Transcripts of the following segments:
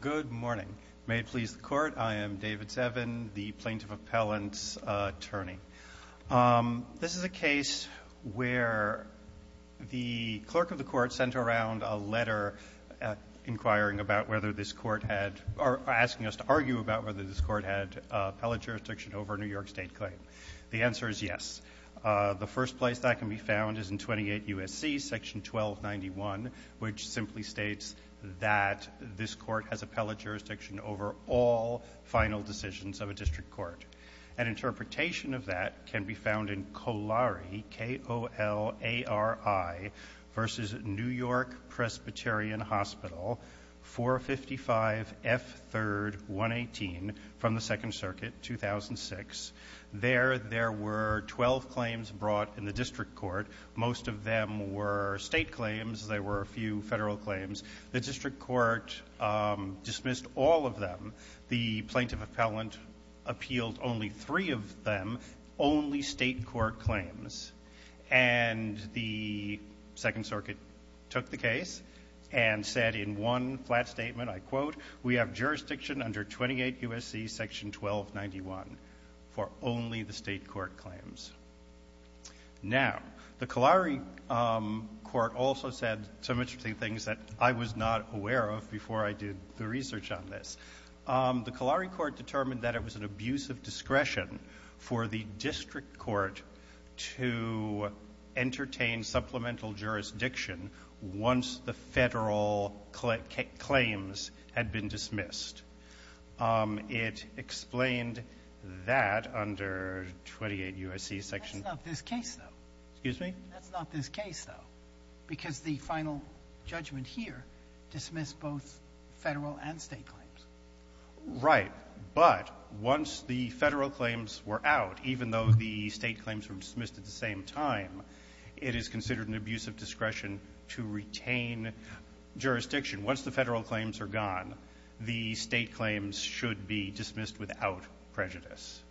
Good morning. May it please the court, I am David Sevin, the Plaintiff Appellant's Attorney. This is a case where the clerk of the court sent around a letter inquiring about whether this court had, or asking us to argue about whether this court had appellate jurisdiction over a New York State claim. The answer is yes. The first place that can be found is in 28 U.S.C. section 1291, which simply states that this court has appellate jurisdiction over all final decisions of a district court. An interpretation of that can be found in Colari, K-O-L-A-R-I, v. New York Presbyterian Hospital, 455 F. 3rd, 118, from the Second Circuit, 2006. There, there were 12 claims brought in the district court. Most of them were state claims. There were a few Federal claims. The district court dismissed all of them. The Plaintiff Appellant appealed only three of them, only state court claims. And the Second Circuit took the case and said in one flat statement, I quote, we have jurisdiction under 28 U.S.C. section 1291 for only the state court claims. Now, the Colari court also said some interesting things that I was not aware of before I did the research on this. The Colari court determined that it was an abuse of discretion for the district court to entertain supplemental jurisdiction once the Federal claims had been dismissed. It explained that under 28 U.S.C. section 1291. Sotomayor, that's not this case, though. Excuse me? That's not this case, though, because the final judgment here dismissed both Federal and state claims. Right. But once the Federal claims were out, even though the state claims were dismissed at the same time, it is considered an abuse of discretion to retain jurisdiction once the Federal claims are gone. The state claims should be dismissed without prejudice.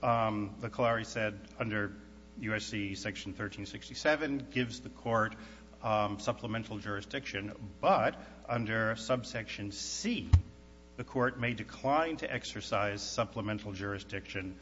The Colari said under U.S.C. section 1367 gives the court supplemental jurisdiction, but under subsection C, the court may decline to exercise supplemental jurisdiction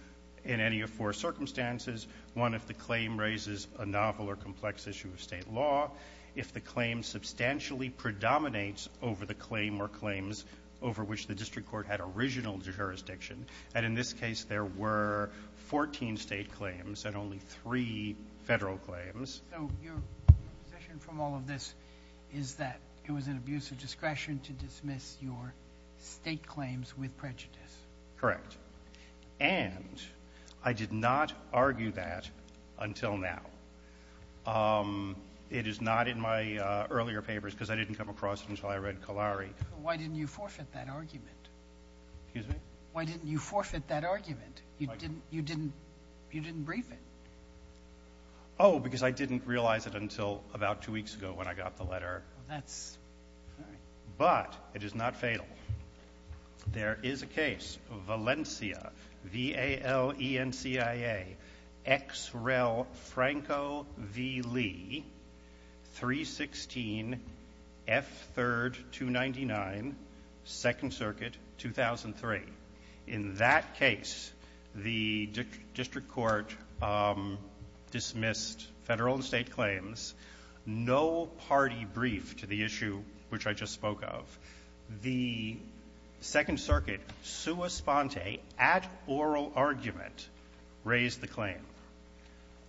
in any of four circumstances. One, if the claim raises a novel or complex issue of state law, if the claim substantially predominates over the claim or claims over which the district court had original jurisdiction. And in this case, there were 14 state claims and only three Federal claims. So your position from all of this is that it was an abuse of discretion to dismiss your state claims with prejudice? Correct. And I did not argue that until now. It is not in my earlier papers, because I didn't come across it until I read Colari. Why didn't you forfeit that argument? Excuse me? Why didn't you forfeit that argument? You didn't brief it. Oh, because I didn't realize it until about two weeks ago when I got the letter. That's right. But it is not fatal. There is a case, Valencia, V-A-L-E-N-C-I-A, X. Rel. Franco v. Lee, 316 F. 3rd, 299, 2nd Circuit, 2003. In that case, the district court dismissed Federal and state claims, no party brief to the issue which I just spoke of. The 2nd Circuit, sua sponte, at oral argument, raised the claim.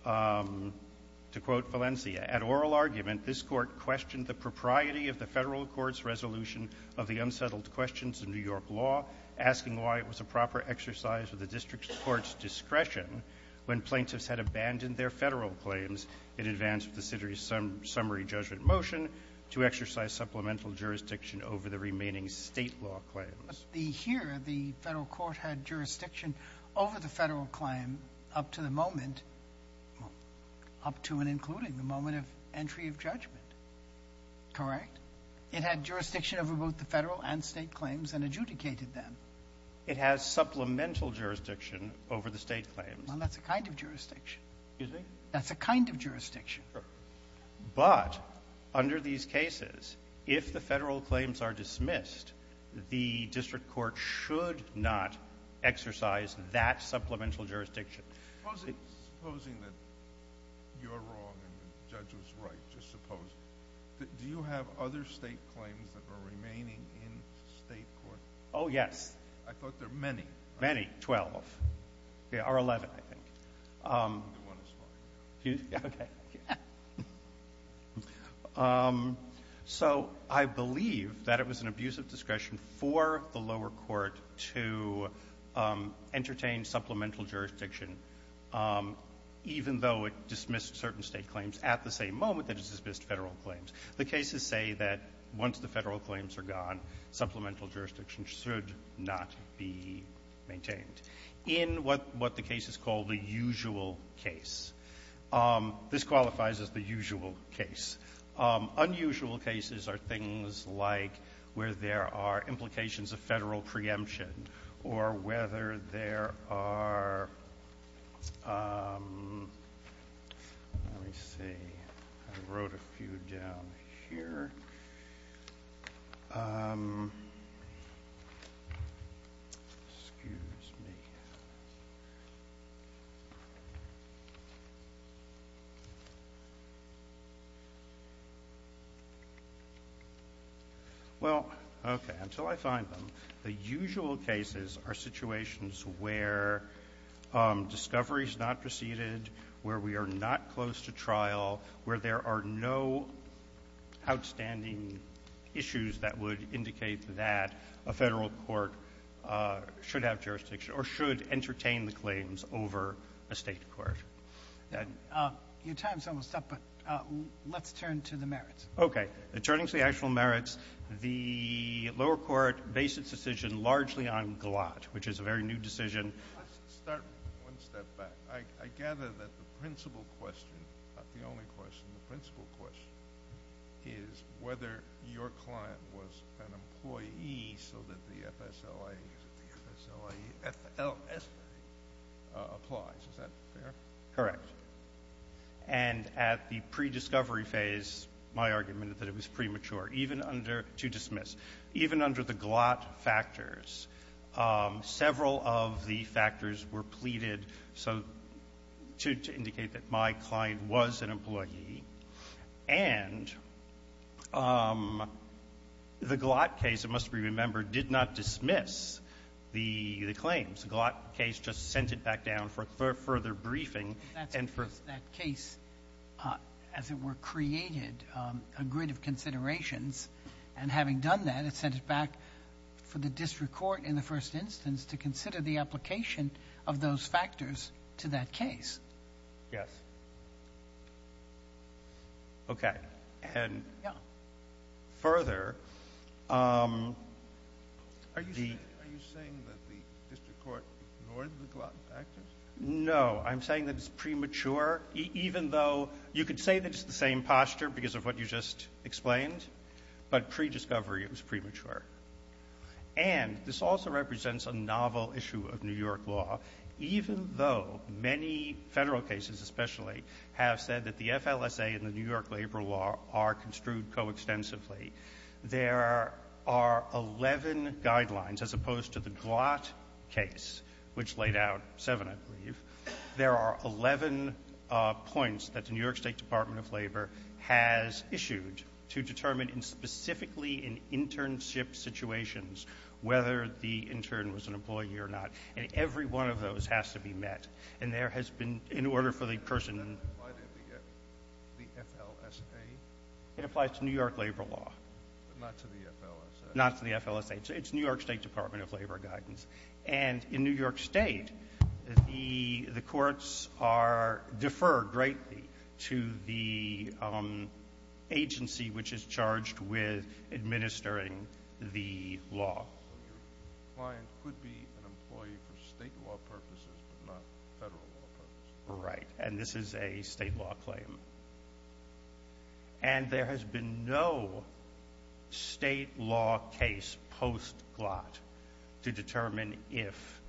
To quote Valencia, At oral argument, this Court questioned the propriety of the Federal Court's resolution of the unsettled questions in New York law, asking why it was a proper exercise of the district court's discretion when plaintiffs had abandoned their Federal claims in advance of the city's summary judgment motion to exercise supplemental jurisdiction over the remaining state law claims. Here, the Federal Court had jurisdiction over the Federal claim up to the moment, up to and including the moment of entry of judgment. Correct? It had jurisdiction over both the Federal and state claims and adjudicated them. It has supplemental jurisdiction over the state claims. Well, that's a kind of jurisdiction. Excuse me? That's a kind of jurisdiction. But under these cases, if the Federal claims are dismissed, the district court should not exercise that supplemental jurisdiction. Supposing that you're wrong and the judge was right. Just supposing. Do you have other state claims that are remaining in state court? Oh, yes. I thought there were many. Many. Twelve. Or eleven, I think. One is fine. Okay. So, I believe that it was an abuse of discretion for the lower court to entertain supplemental jurisdiction, even though it dismissed certain state claims at the same moment that it dismissed Federal claims. The cases say that once the Federal claims are gone, supplemental jurisdiction should not be maintained. In what the case is called the usual case. This qualifies as the usual case. Unusual cases are things like where there are implications of Federal preemption or whether there are... Let me see. I wrote a few down here. Excuse me. Well, okay. Until I find them. The usual cases are situations where discovery is not preceded, where we are not close to trial, where there are no outstanding issues that would indicate that a Federal court should have jurisdiction or should entertain the claims over a state court. Your time is almost up, but let's turn to the merits. Okay. Turning to the actual merits, the lower court based its decision largely on Galat, which is a very new decision. Let's start one step back. I gather that the principal question, not the only question, the principal question is whether your client was an employee so that the FSLA applies. Is that fair? Correct. And at the prediscovery phase, my argument is that it was premature, even under, to dismiss, even under the Galat factors, several of the factors were pleaded to indicate that my client was an employee and the Galat case, it must be remembered, did not dismiss the claims. Galat case just sent it back down for further briefing. That case, as it were, created a grid of considerations, and having done that, it sent it back for the district court in the first instance to consider the application of those factors to that case. Yes. Okay. And further, Are you saying that the district court ignored the Galat factors? No. I'm saying that it's premature, even though you could say that it's the same posture because of what you just explained, but prediscovery, it was premature. And this also represents a novel issue of New York law, even though many federal cases especially have said that the FLSA and the New York law are construed co-extensively. There are 11 guidelines, as opposed to the Galat case, which laid out seven, I believe. There are 11 points that the New York State Department of Labor has issued to determine specifically in internship situations whether the intern was an employee or not. And every one of those has to be met. And there has been, In order for the person, The FLSA? It applies to New York labor law. But not to the FLSA? Not to the FLSA. It's New York State Department of Labor guidance. And in New York State, the courts are deferred greatly to the agency which is charged with administering the law. So your client could be an employee for state law purposes, but not federal law purposes? Right. And this is a state law claim. And there has been no state law case post-Galat to determine if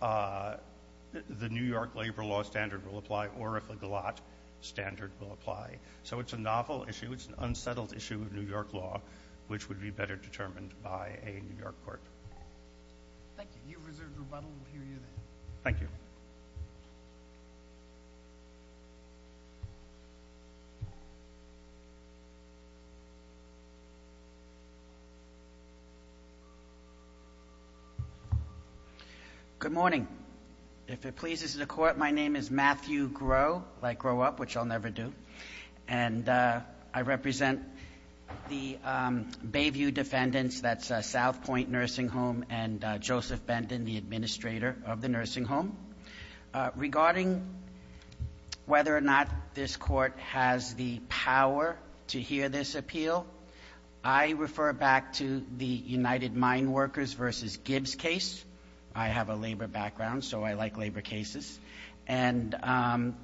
the New York labor law standard will apply or if a Galat standard will apply. So it's a novel issue. It's an unsettled issue of New York law, which would be better determined by a New York court. Thank you. You've reserved rebuttal. We'll hear you then. Thank you. Good morning. If it pleases the court, my name is Matthew Grow, like Grow Up, which I'll never do. And I represent the Bayview defendants, that's South Point Nursing Home and Joseph Benton, the administrator of the nursing home. Regarding whether or not this court has the power to hear this appeal, I refer back to the United Mine Workers v. Gibbs case. I have a labor background, so I like labor cases. And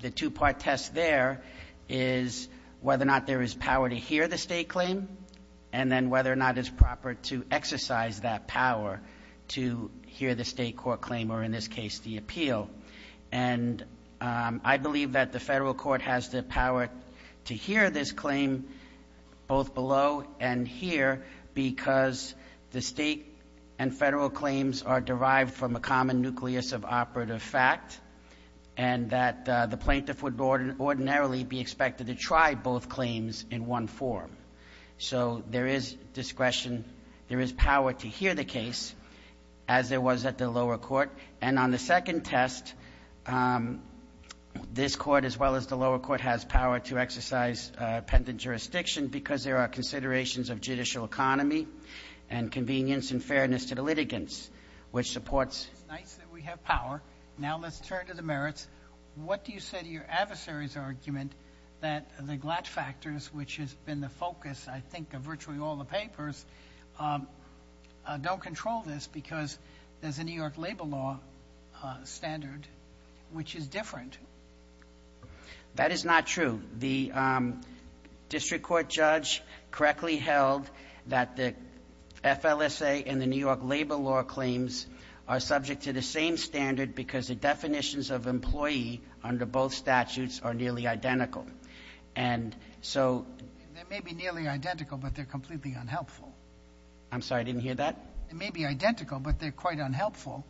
the two-part test there is whether or not there is power to hear the state court claim or, in this case, the appeal. And I believe that the federal court has the power to hear this claim both below and here because the state and federal claims are derived from a common nucleus of operative fact and that the plaintiff would ordinarily be expected to try both claims in one form. So there is discretion, there is power to hear the case, as there was at the lower court. And on the second test, this court, as well as the lower court, has power to exercise a pendant jurisdiction because there are considerations of judicial economy and convenience and fairness to the litigants, which supports. It's nice that we have power. Now let's turn to the merits. What do you say to your adversary's argument that the Glatt factors, which has been the focus, I think, of virtually all the papers, don't control this because there's a New York labor law standard which is different? That is not true. The district court judge correctly held that the FLSA and the New York labor law claims are subject to the same standard because the definitions of employee under both statutes are nearly identical. And so. They may be nearly identical, but they're completely unhelpful. I'm sorry, I didn't hear that. It may be identical, but they're quite unhelpful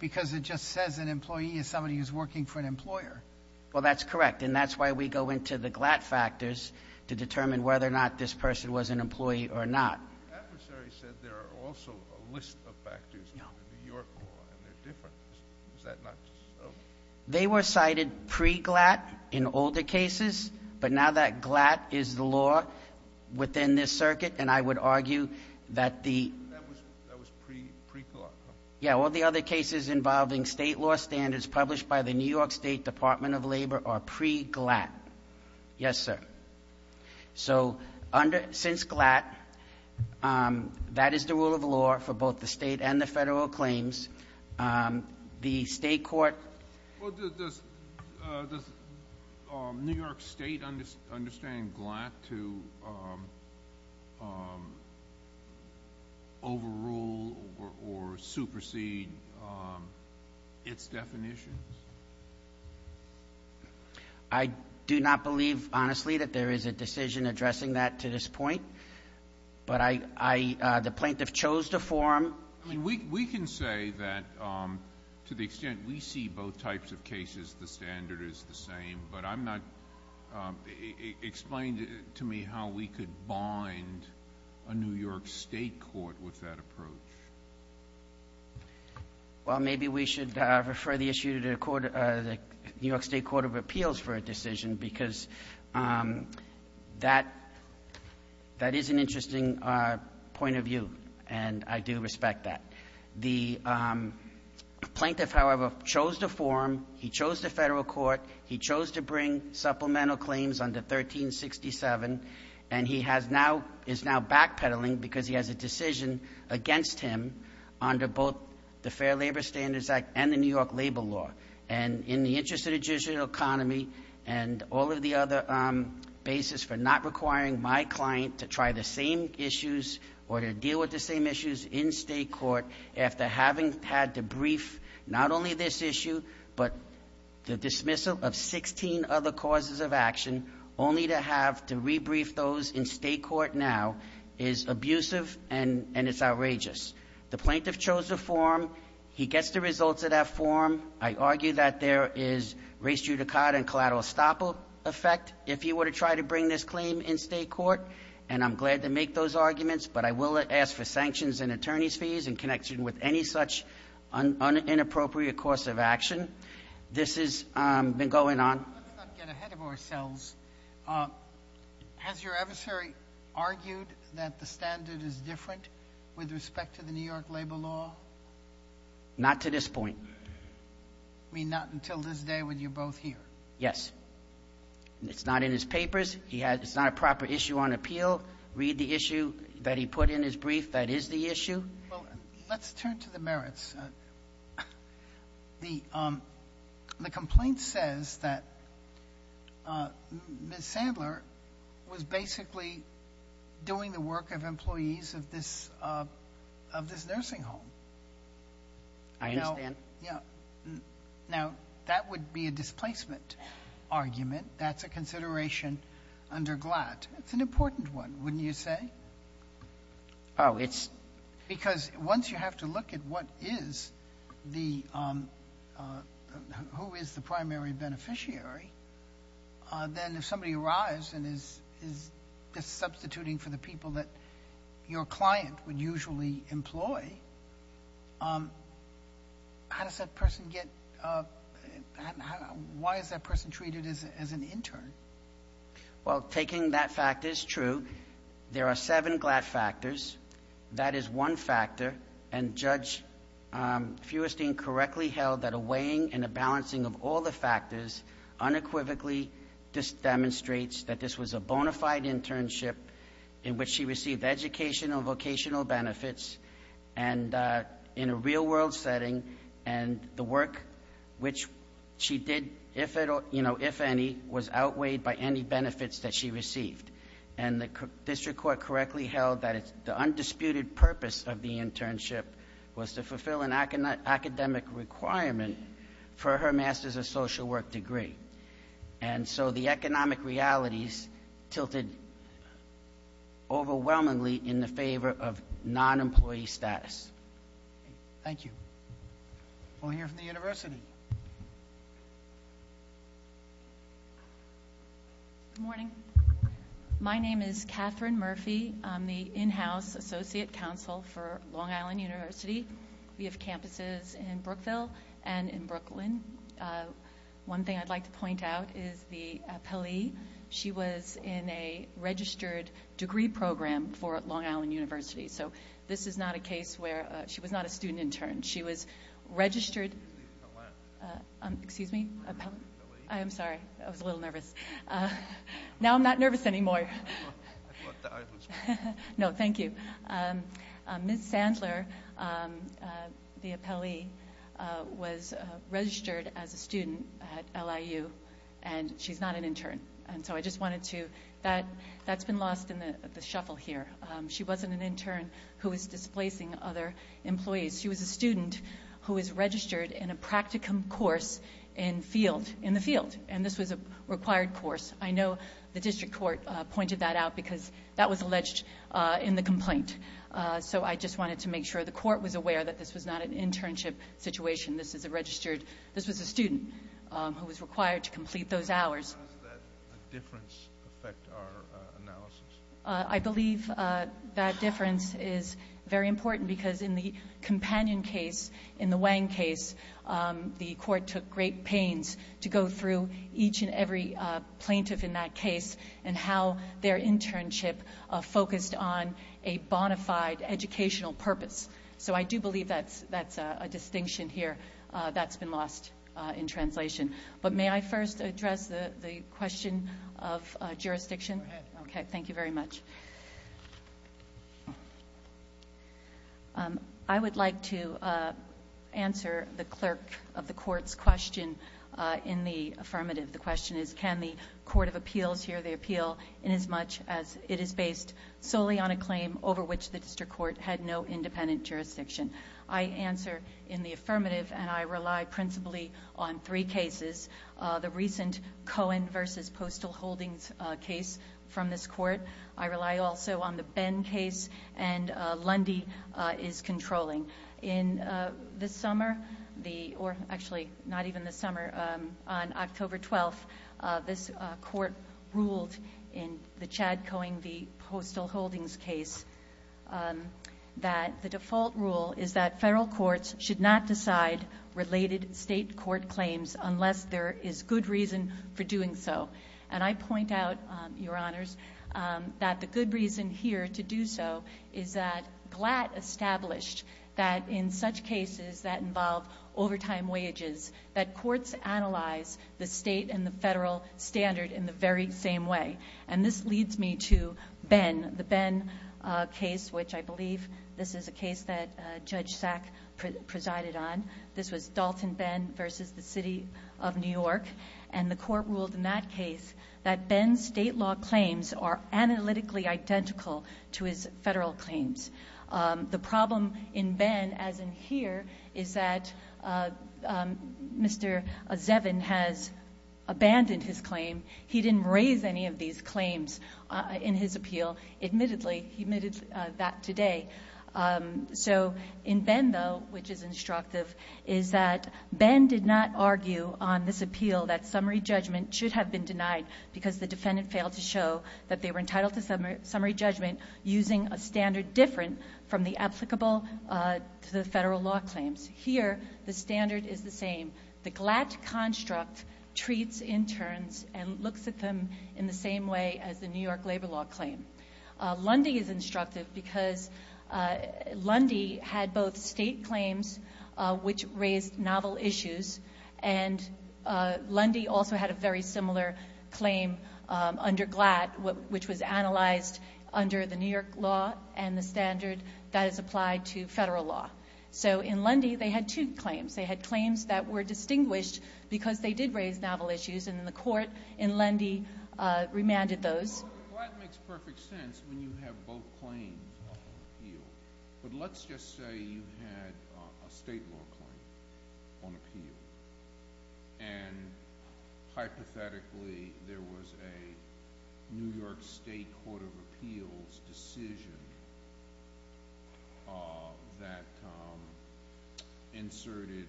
because it just says an employee is somebody who's working for an employer. Well, that's correct. And that's why we go into the Glatt factors to determine whether or not this person was an employee or not. Your adversary said there are also a list of factors in the New York law and they're different. Is that not so? They were cited pre-Glatt in older cases. But now that Glatt is the law within this circuit, and I would argue that the. That was pre-Glatt. Yeah. All the other cases involving state law standards published by the New York State Department of Labor are pre-Glatt. Yes, sir. So under, since Glatt, um, that is the rule of law for both the state and the federal claims. Um, the state court. Well, does, uh, does, um, New York state understand Glatt to, um, um, overrule or, or supersede, um, its definitions? I do not believe honestly that there is a decision addressing that to this point, but I, I, uh, the plaintiff chose to form. I mean, we, we can say that, um, to the extent we see both types of cases, the standard is the same, but I'm not, um, explain to me how we could bind a New York state court with that approach. Well, maybe we should, uh, refer the issue to the court, uh, the New York state court of appeals for a decision because, um, that, uh, point of view, and I do respect that. The, um, plaintiff, however, chose to form, he chose the federal court, he chose to bring supplemental claims under 1367, and he has now, is now backpedaling because he has a decision against him under both the Fair Labor Standards Act and the New York labor law. And in the interest of the judicial economy and all of the other, um, basis for not requiring my client to try the same issues or to deal with the same issues in state court, after having had to brief not only this issue, but the dismissal of 16 other causes of action, only to have to rebrief those in state court now is abusive and, and it's outrageous. The plaintiff chose to form, he gets the results of that form. I argue that there is race judicata and collateral stopper effect. If you were to try to bring this claim in state court, and I'm glad to make those arguments, but I will ask for sanctions and attorney's fees in connection with any such inappropriate course of action. This has been going on. Let's not get ahead of ourselves. Um, has your adversary argued that the standard is different with respect to the New York labor law? Not to this point. I mean, not until this day when you're both here. Yes. It's not in his papers. He has, it's not a proper issue on appeal. Read the issue that he put in his brief. That is the issue. Well, let's turn to the merits. Uh, the, um, the complaint says that, uh, Ms. Sandler was basically doing the work of employees of this, uh, of this nursing home. I understand. Yeah. Now that would be a displacement argument. That's a consideration under glad. It's an important one. Wouldn't you say? Oh, it's because once you have to look at what is the, um, uh, who is the primary beneficiary, uh, then if somebody arrives and is, is just substituting for the people that your client would usually employ, um, how does that person get, uh, why is that person treated as, as an intern? Well, taking that fact is true. There are seven glad factors. That is one factor. And Judge, um, Fewerstein correctly held that a weighing and a balancing of all the factors unequivocally just demonstrates that this was a bona fide internship in which she received educational vocational benefits and, uh, in a real world setting. And the work which she did, if at all, you know, if any was outweighed by any benefits that she received. And the district court correctly held that the undisputed purpose of the internship was to fulfill an academic requirement for her master's of social work degree. And so the economic realities tilted overwhelmingly in the favor of non-employee status. Thank you. We'll hear from the university. Good morning. My name is Catherine Murphy. I'm the in-house associate counsel for Long Island University. We have campuses in Brookville and in Brooklyn. Uh, one thing I'd like to point out is the, uh, Pellea. She was in a registered degree program for Long Island University. So this is not a case where, uh, she was not a student intern. She was registered, uh, um, excuse me. I'm sorry. I was a little nervous. Uh, now I'm not nervous anymore. No, thank you. Um, uh, Ms. Sandler, um, uh, the appellee, uh, was, uh, registered as a student at LIU and she's not an intern. And so I just wanted to, that, that's been lost in the shuffle here. Um, she wasn't an intern who was displacing other employees. She was a student who was registered in a practicum course in field, in the field. And this was a required course. I know the district court, uh, pointed that out because that was alleged, uh, in the complaint. Uh, so I just wanted to make sure the court was aware that this was not an internship situation. This is a registered, this was a student, um, who was required to complete those hours. How does that difference affect our, uh, analysis? Uh, I believe, uh, that difference is very important because in the companion case, in the Wang case, um, the court took great pains to go through each and every, uh, plaintiff in that case and how their internship, uh, focused on a bona fide educational purpose. So I do believe that's, that's, uh, a distinction here, uh, that's been lost, uh, in translation. But may I first address the, the question of, uh, jurisdiction? Okay. Thank you very much. Um, I would like to, uh, ask the clerk of the court's question, uh, in the affirmative. The question is, can the court of appeals here, the appeal, in as much as it is based solely on a claim over which the district court had no independent jurisdiction? I answer in the affirmative and I rely principally on three cases. Uh, the recent Cohen versus Postal Holdings, uh, case from this court. I rely also on the Ben case and, uh, Lundy, uh, is controlling. In, uh, this summer, the, or actually not even this summer, um, on October 12th, uh, this, uh, court ruled in the Chad Cohen v. Postal Holdings case, um, that the default rule is that federal courts should not decide related state court claims unless there is good reason for doing so. And I point out, um, Your Honors, um, that the good reason here to do so is that GLAT established that in such cases that involve overtime wages, that courts analyze the state and the federal standard in the very same way. And this leads me to Ben, the Ben, uh, case, which I believe this is a case that, uh, Judge Sack presided on. This was Dalton Ben versus the City of New York. And the court ruled in that case that Ben's state law claims are analytically identical to his federal claims. Um, the problem in Ben, as in here, is that, uh, um, Mr. Zevin has abandoned his claim. He didn't raise any of these claims, uh, in his appeal. Admittedly, he admitted, uh, that today. Um, so in Ben though, which is instructive, is that Ben did not argue on this appeal that summary judgment should have been denied because the defendant failed to show that they were entitled to summary judgment using a applicable, uh, to the federal law claims. Here, the standard is the same. The GLAT construct treats interns and looks at them in the same way as the New York labor law claim. Uh, Lundy is instructive because, uh, Lundy had both state claims, uh, which raised novel issues. And, uh, Lundy also had a very similar claim, um, under GLAT, which was analyzed under the New York law and the standard. That is applied to federal law. So, in Lundy, they had two claims. They had claims that were distinguished because they did raise novel issues. And in the court, in Lundy, uh, remanded those. Well, GLAT makes perfect sense when you have both claims on appeal. But let's just say you had, uh, a state law claim on appeal. And, hypothetically, there was a New York State Court of Appeals decision uh, that, um, inserted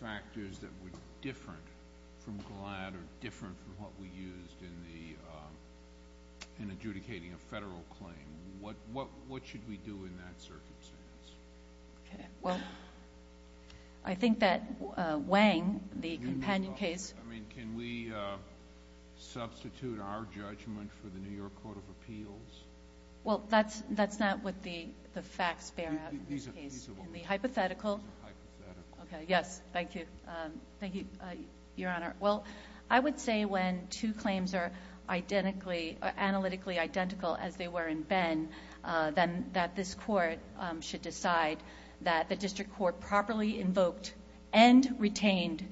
factors that were different from GLAT or different from what we used in the, uh, in adjudicating a federal claim. What, what, what should we do in that circumstance? Okay. Well, I think that, uh, Wang, the companion case. I mean, can we, uh, substitute our judgment for the New York Court of Appeals? Well, that's, that's not what the, the facts bear out in this case. These are, these are what we're looking for. The hypothetical. These are hypothetical. Okay. Yes. Thank you. Um, thank you, uh, Your Honor. Well, I would say when two claims are identically, or analytically identical as they were in Ben, uh, then that this court, um, should decide that the district court properly invoked and retained,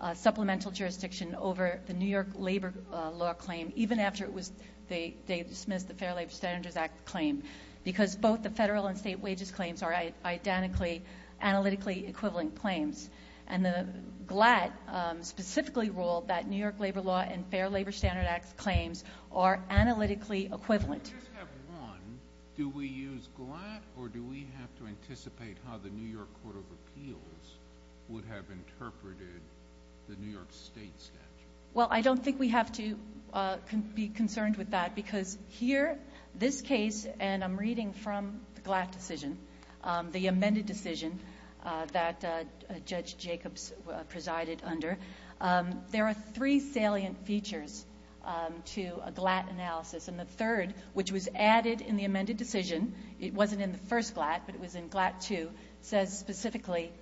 uh, supplemental jurisdiction over the New York labor, uh, law claim, even after it was, they, they dismissed the Fair Labor Standards Act claim because both the federal and state wages claims are identically analytically equivalent claims. And the GLAT, um, specifically ruled that New York labor law and Fair Labor Standards Act claims are analytically equivalent. I just have one. Do we use GLAT or do we have to anticipate how the New York Court of Appeals would have interpreted the New York state statute? Well, I don't think we have to, uh, be concerned with that because here, this case, and I'm reading from the GLAT decision, um, the amended decision, uh, that, uh, Judge Jacobs, uh, presided under, um, there are three salient features, um, to a GLAT analysis. And the third, which was added in the amended decision, it wasn't in the first GLAT, but it was in GLAT two, says specifically,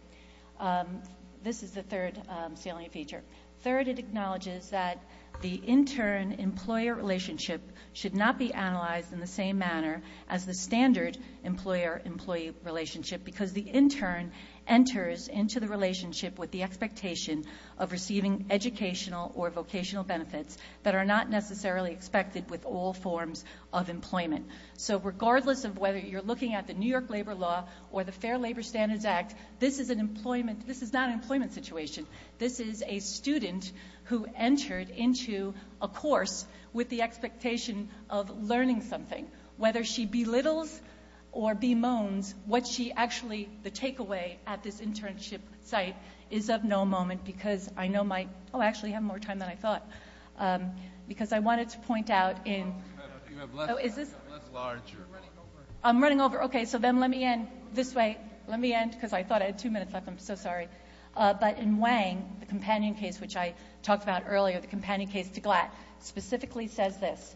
um, this is the third, um, salient feature. Third, it acknowledges that the intern-employer relationship should not be analyzed in the same manner as the standard employer-employee relationship because the intern enters into the relationship with the expectation of receiving educational or vocational benefits that are not necessarily expected with all forms of employment. So, regardless of whether you're looking at the New York Labor Law or the Fair Labor Standards Act, this is an employment, this is not an employment situation. This is a student who entered into a course with the expectation of learning something. Whether she belittles or bemoans what she actually, the takeaway at this internship site is of no moment because I know my, oh, I actually have more time than I thought, um, because I wanted to point out in, oh, is this, I'm running over, okay, so then let me end this way, let me end because I thought I had two minutes left, I'm so sorry. Uh, but in Wang, the companion case which I talked about earlier, the companion case to Glatt, specifically says this,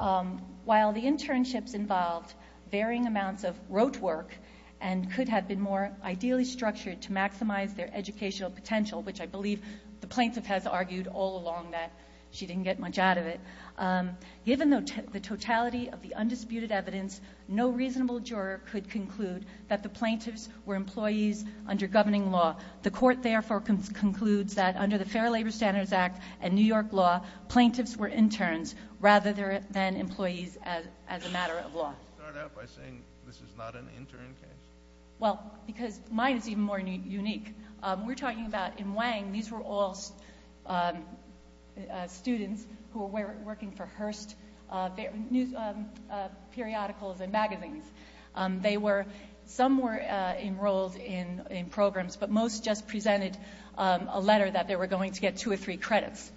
um, while the internships involved varying amounts of rote work and could have been more ideally structured to maximize their educational potential, which I believe the plaintiff has argued all along that she didn't get much out of it, um, given the totality of the undisputed evidence, no reasonable juror could conclude that the plaintiffs were employees under governing law. The court therefore concludes that under the Fair Labor Standards Act and New York law, plaintiffs were interns rather than employees as, as a matter of law. Start out by saying this is not an intern case. Well, because mine is even more unique. Um, we're talking about in Wang these were all, um, uh, students who were working for Hearst, uh, news, uh, periodicals and magazines. Um, they were, some were, uh, um, a letter that they were going to get two or three credits.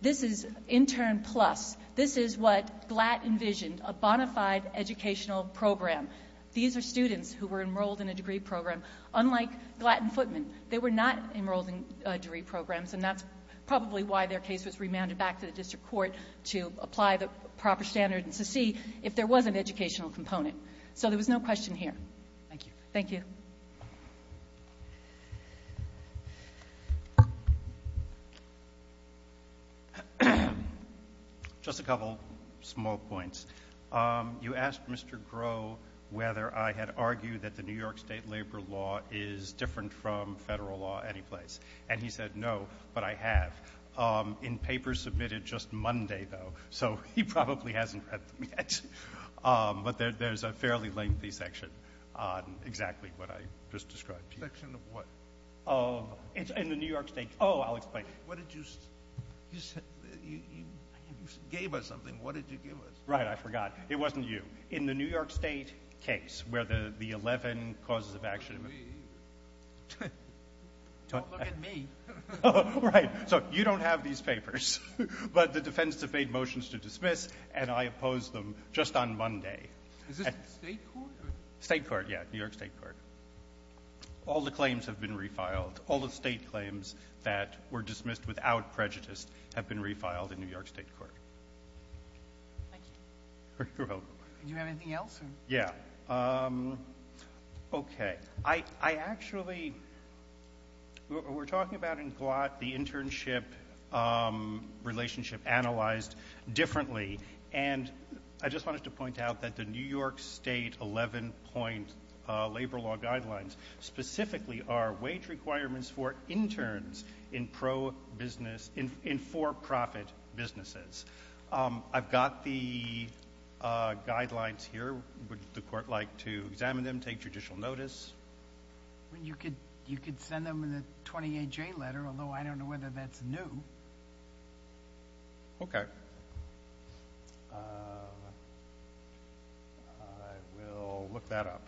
This is intern plus. This is what Glatt envisioned, a bona fide educational program. These are students who were enrolled in a degree program. Unlike Glatt and Footman, they were not enrolled in, uh, degree programs and that's probably why their case was remanded back to the district court to apply the proper standards to see if there was an educational component. So there was no question here. Thank you. Thank you. Just a couple small points. Um, you asked Mr. Groh whether I had argued that the New York State labor law is different from federal law any place and he said no but I have. Um, in papers submitted just Monday though so he probably hasn't read them yet. Um, but there, there's a fairly lengthy section on exactly what I just described to you. Section of what? Of, in the New York State. Oh, I'll explain. What did you, you said, you, you gave us something. What did you give us? Right, I forgot. It wasn't you. In the New York State case where the, the eleven causes of action. Don't look at me. Don't look at me. Oh, right. So, you don't have these papers but the defense has made motions to dismiss and I opposed them just on Monday. Is this the state court? State court, yeah. New York State Court. All the claims have been refiled. All the state claims that were dismissed without prejudice have been refiled in New York State Court. Thank you. You're welcome. Do you have anything else? Yeah. Um, okay. I, I actually we're, we're talking about in GLOT the internship um, requirements have been revised differently and I just wanted to point out that the New York State eleven point uh, labor law guidelines specifically are wage requirements for interns in pro business in for-profit businesses. Um, I've got the uh, guidelines here. Would the court like to examine them, take judicial notice? You could, you could send them in the 28J letter although I don't know whether that's new. Okay. Um, I will look that up.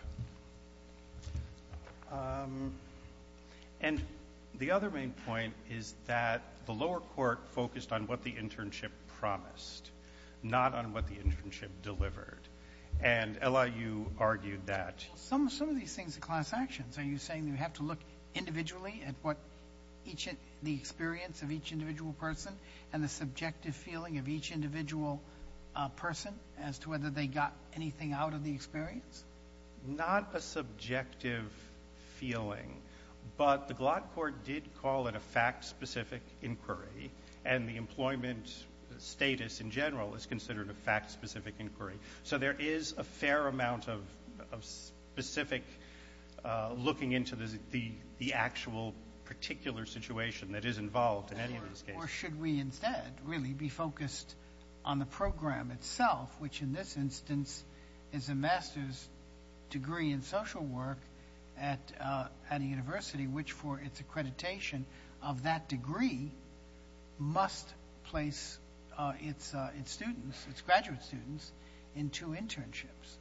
Um, and the other main point is that the lower court focused on what the internship promised not on what the internship delivered and Ella, you argued that. Some, some of these things are class actions. Are you saying you have to look individually at what each, the experience of each individual person and the subjective feeling of each individual uh, person as to whether they got anything out of the experience? Not a subjective feeling but the Glock court did call it a fact specific inquiry and the employment status in general is considered a fact specific inquiry. So there is a fair amount of, of specific uh, looking into the, the, the actual particular situation that is involved in any of these cases. Or should we instead really be focused on the program itself which in this instance is a master's degree in social work at, uh, at a university which for its accreditation of that degree must place uh, its, its students, its graduate students into internships?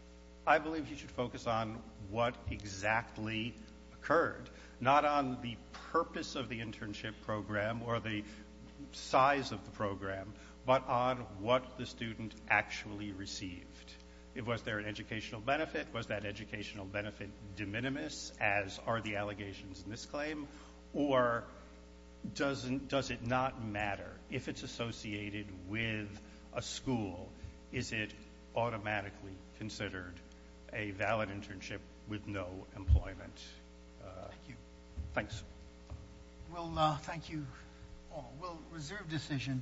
I believe you should focus on what exactly occurred. Not on the purpose of the internship program or the size of the program but on what the student actually received. Was there an educational benefit? Was that an internship with a school? Is it automatically considered a valid internship with no employment? all. We'll, reserve decision. Thank you. Thank you. Thank you. Thank you. Thank you. Thank you. Thank you. Thank you. Thank you.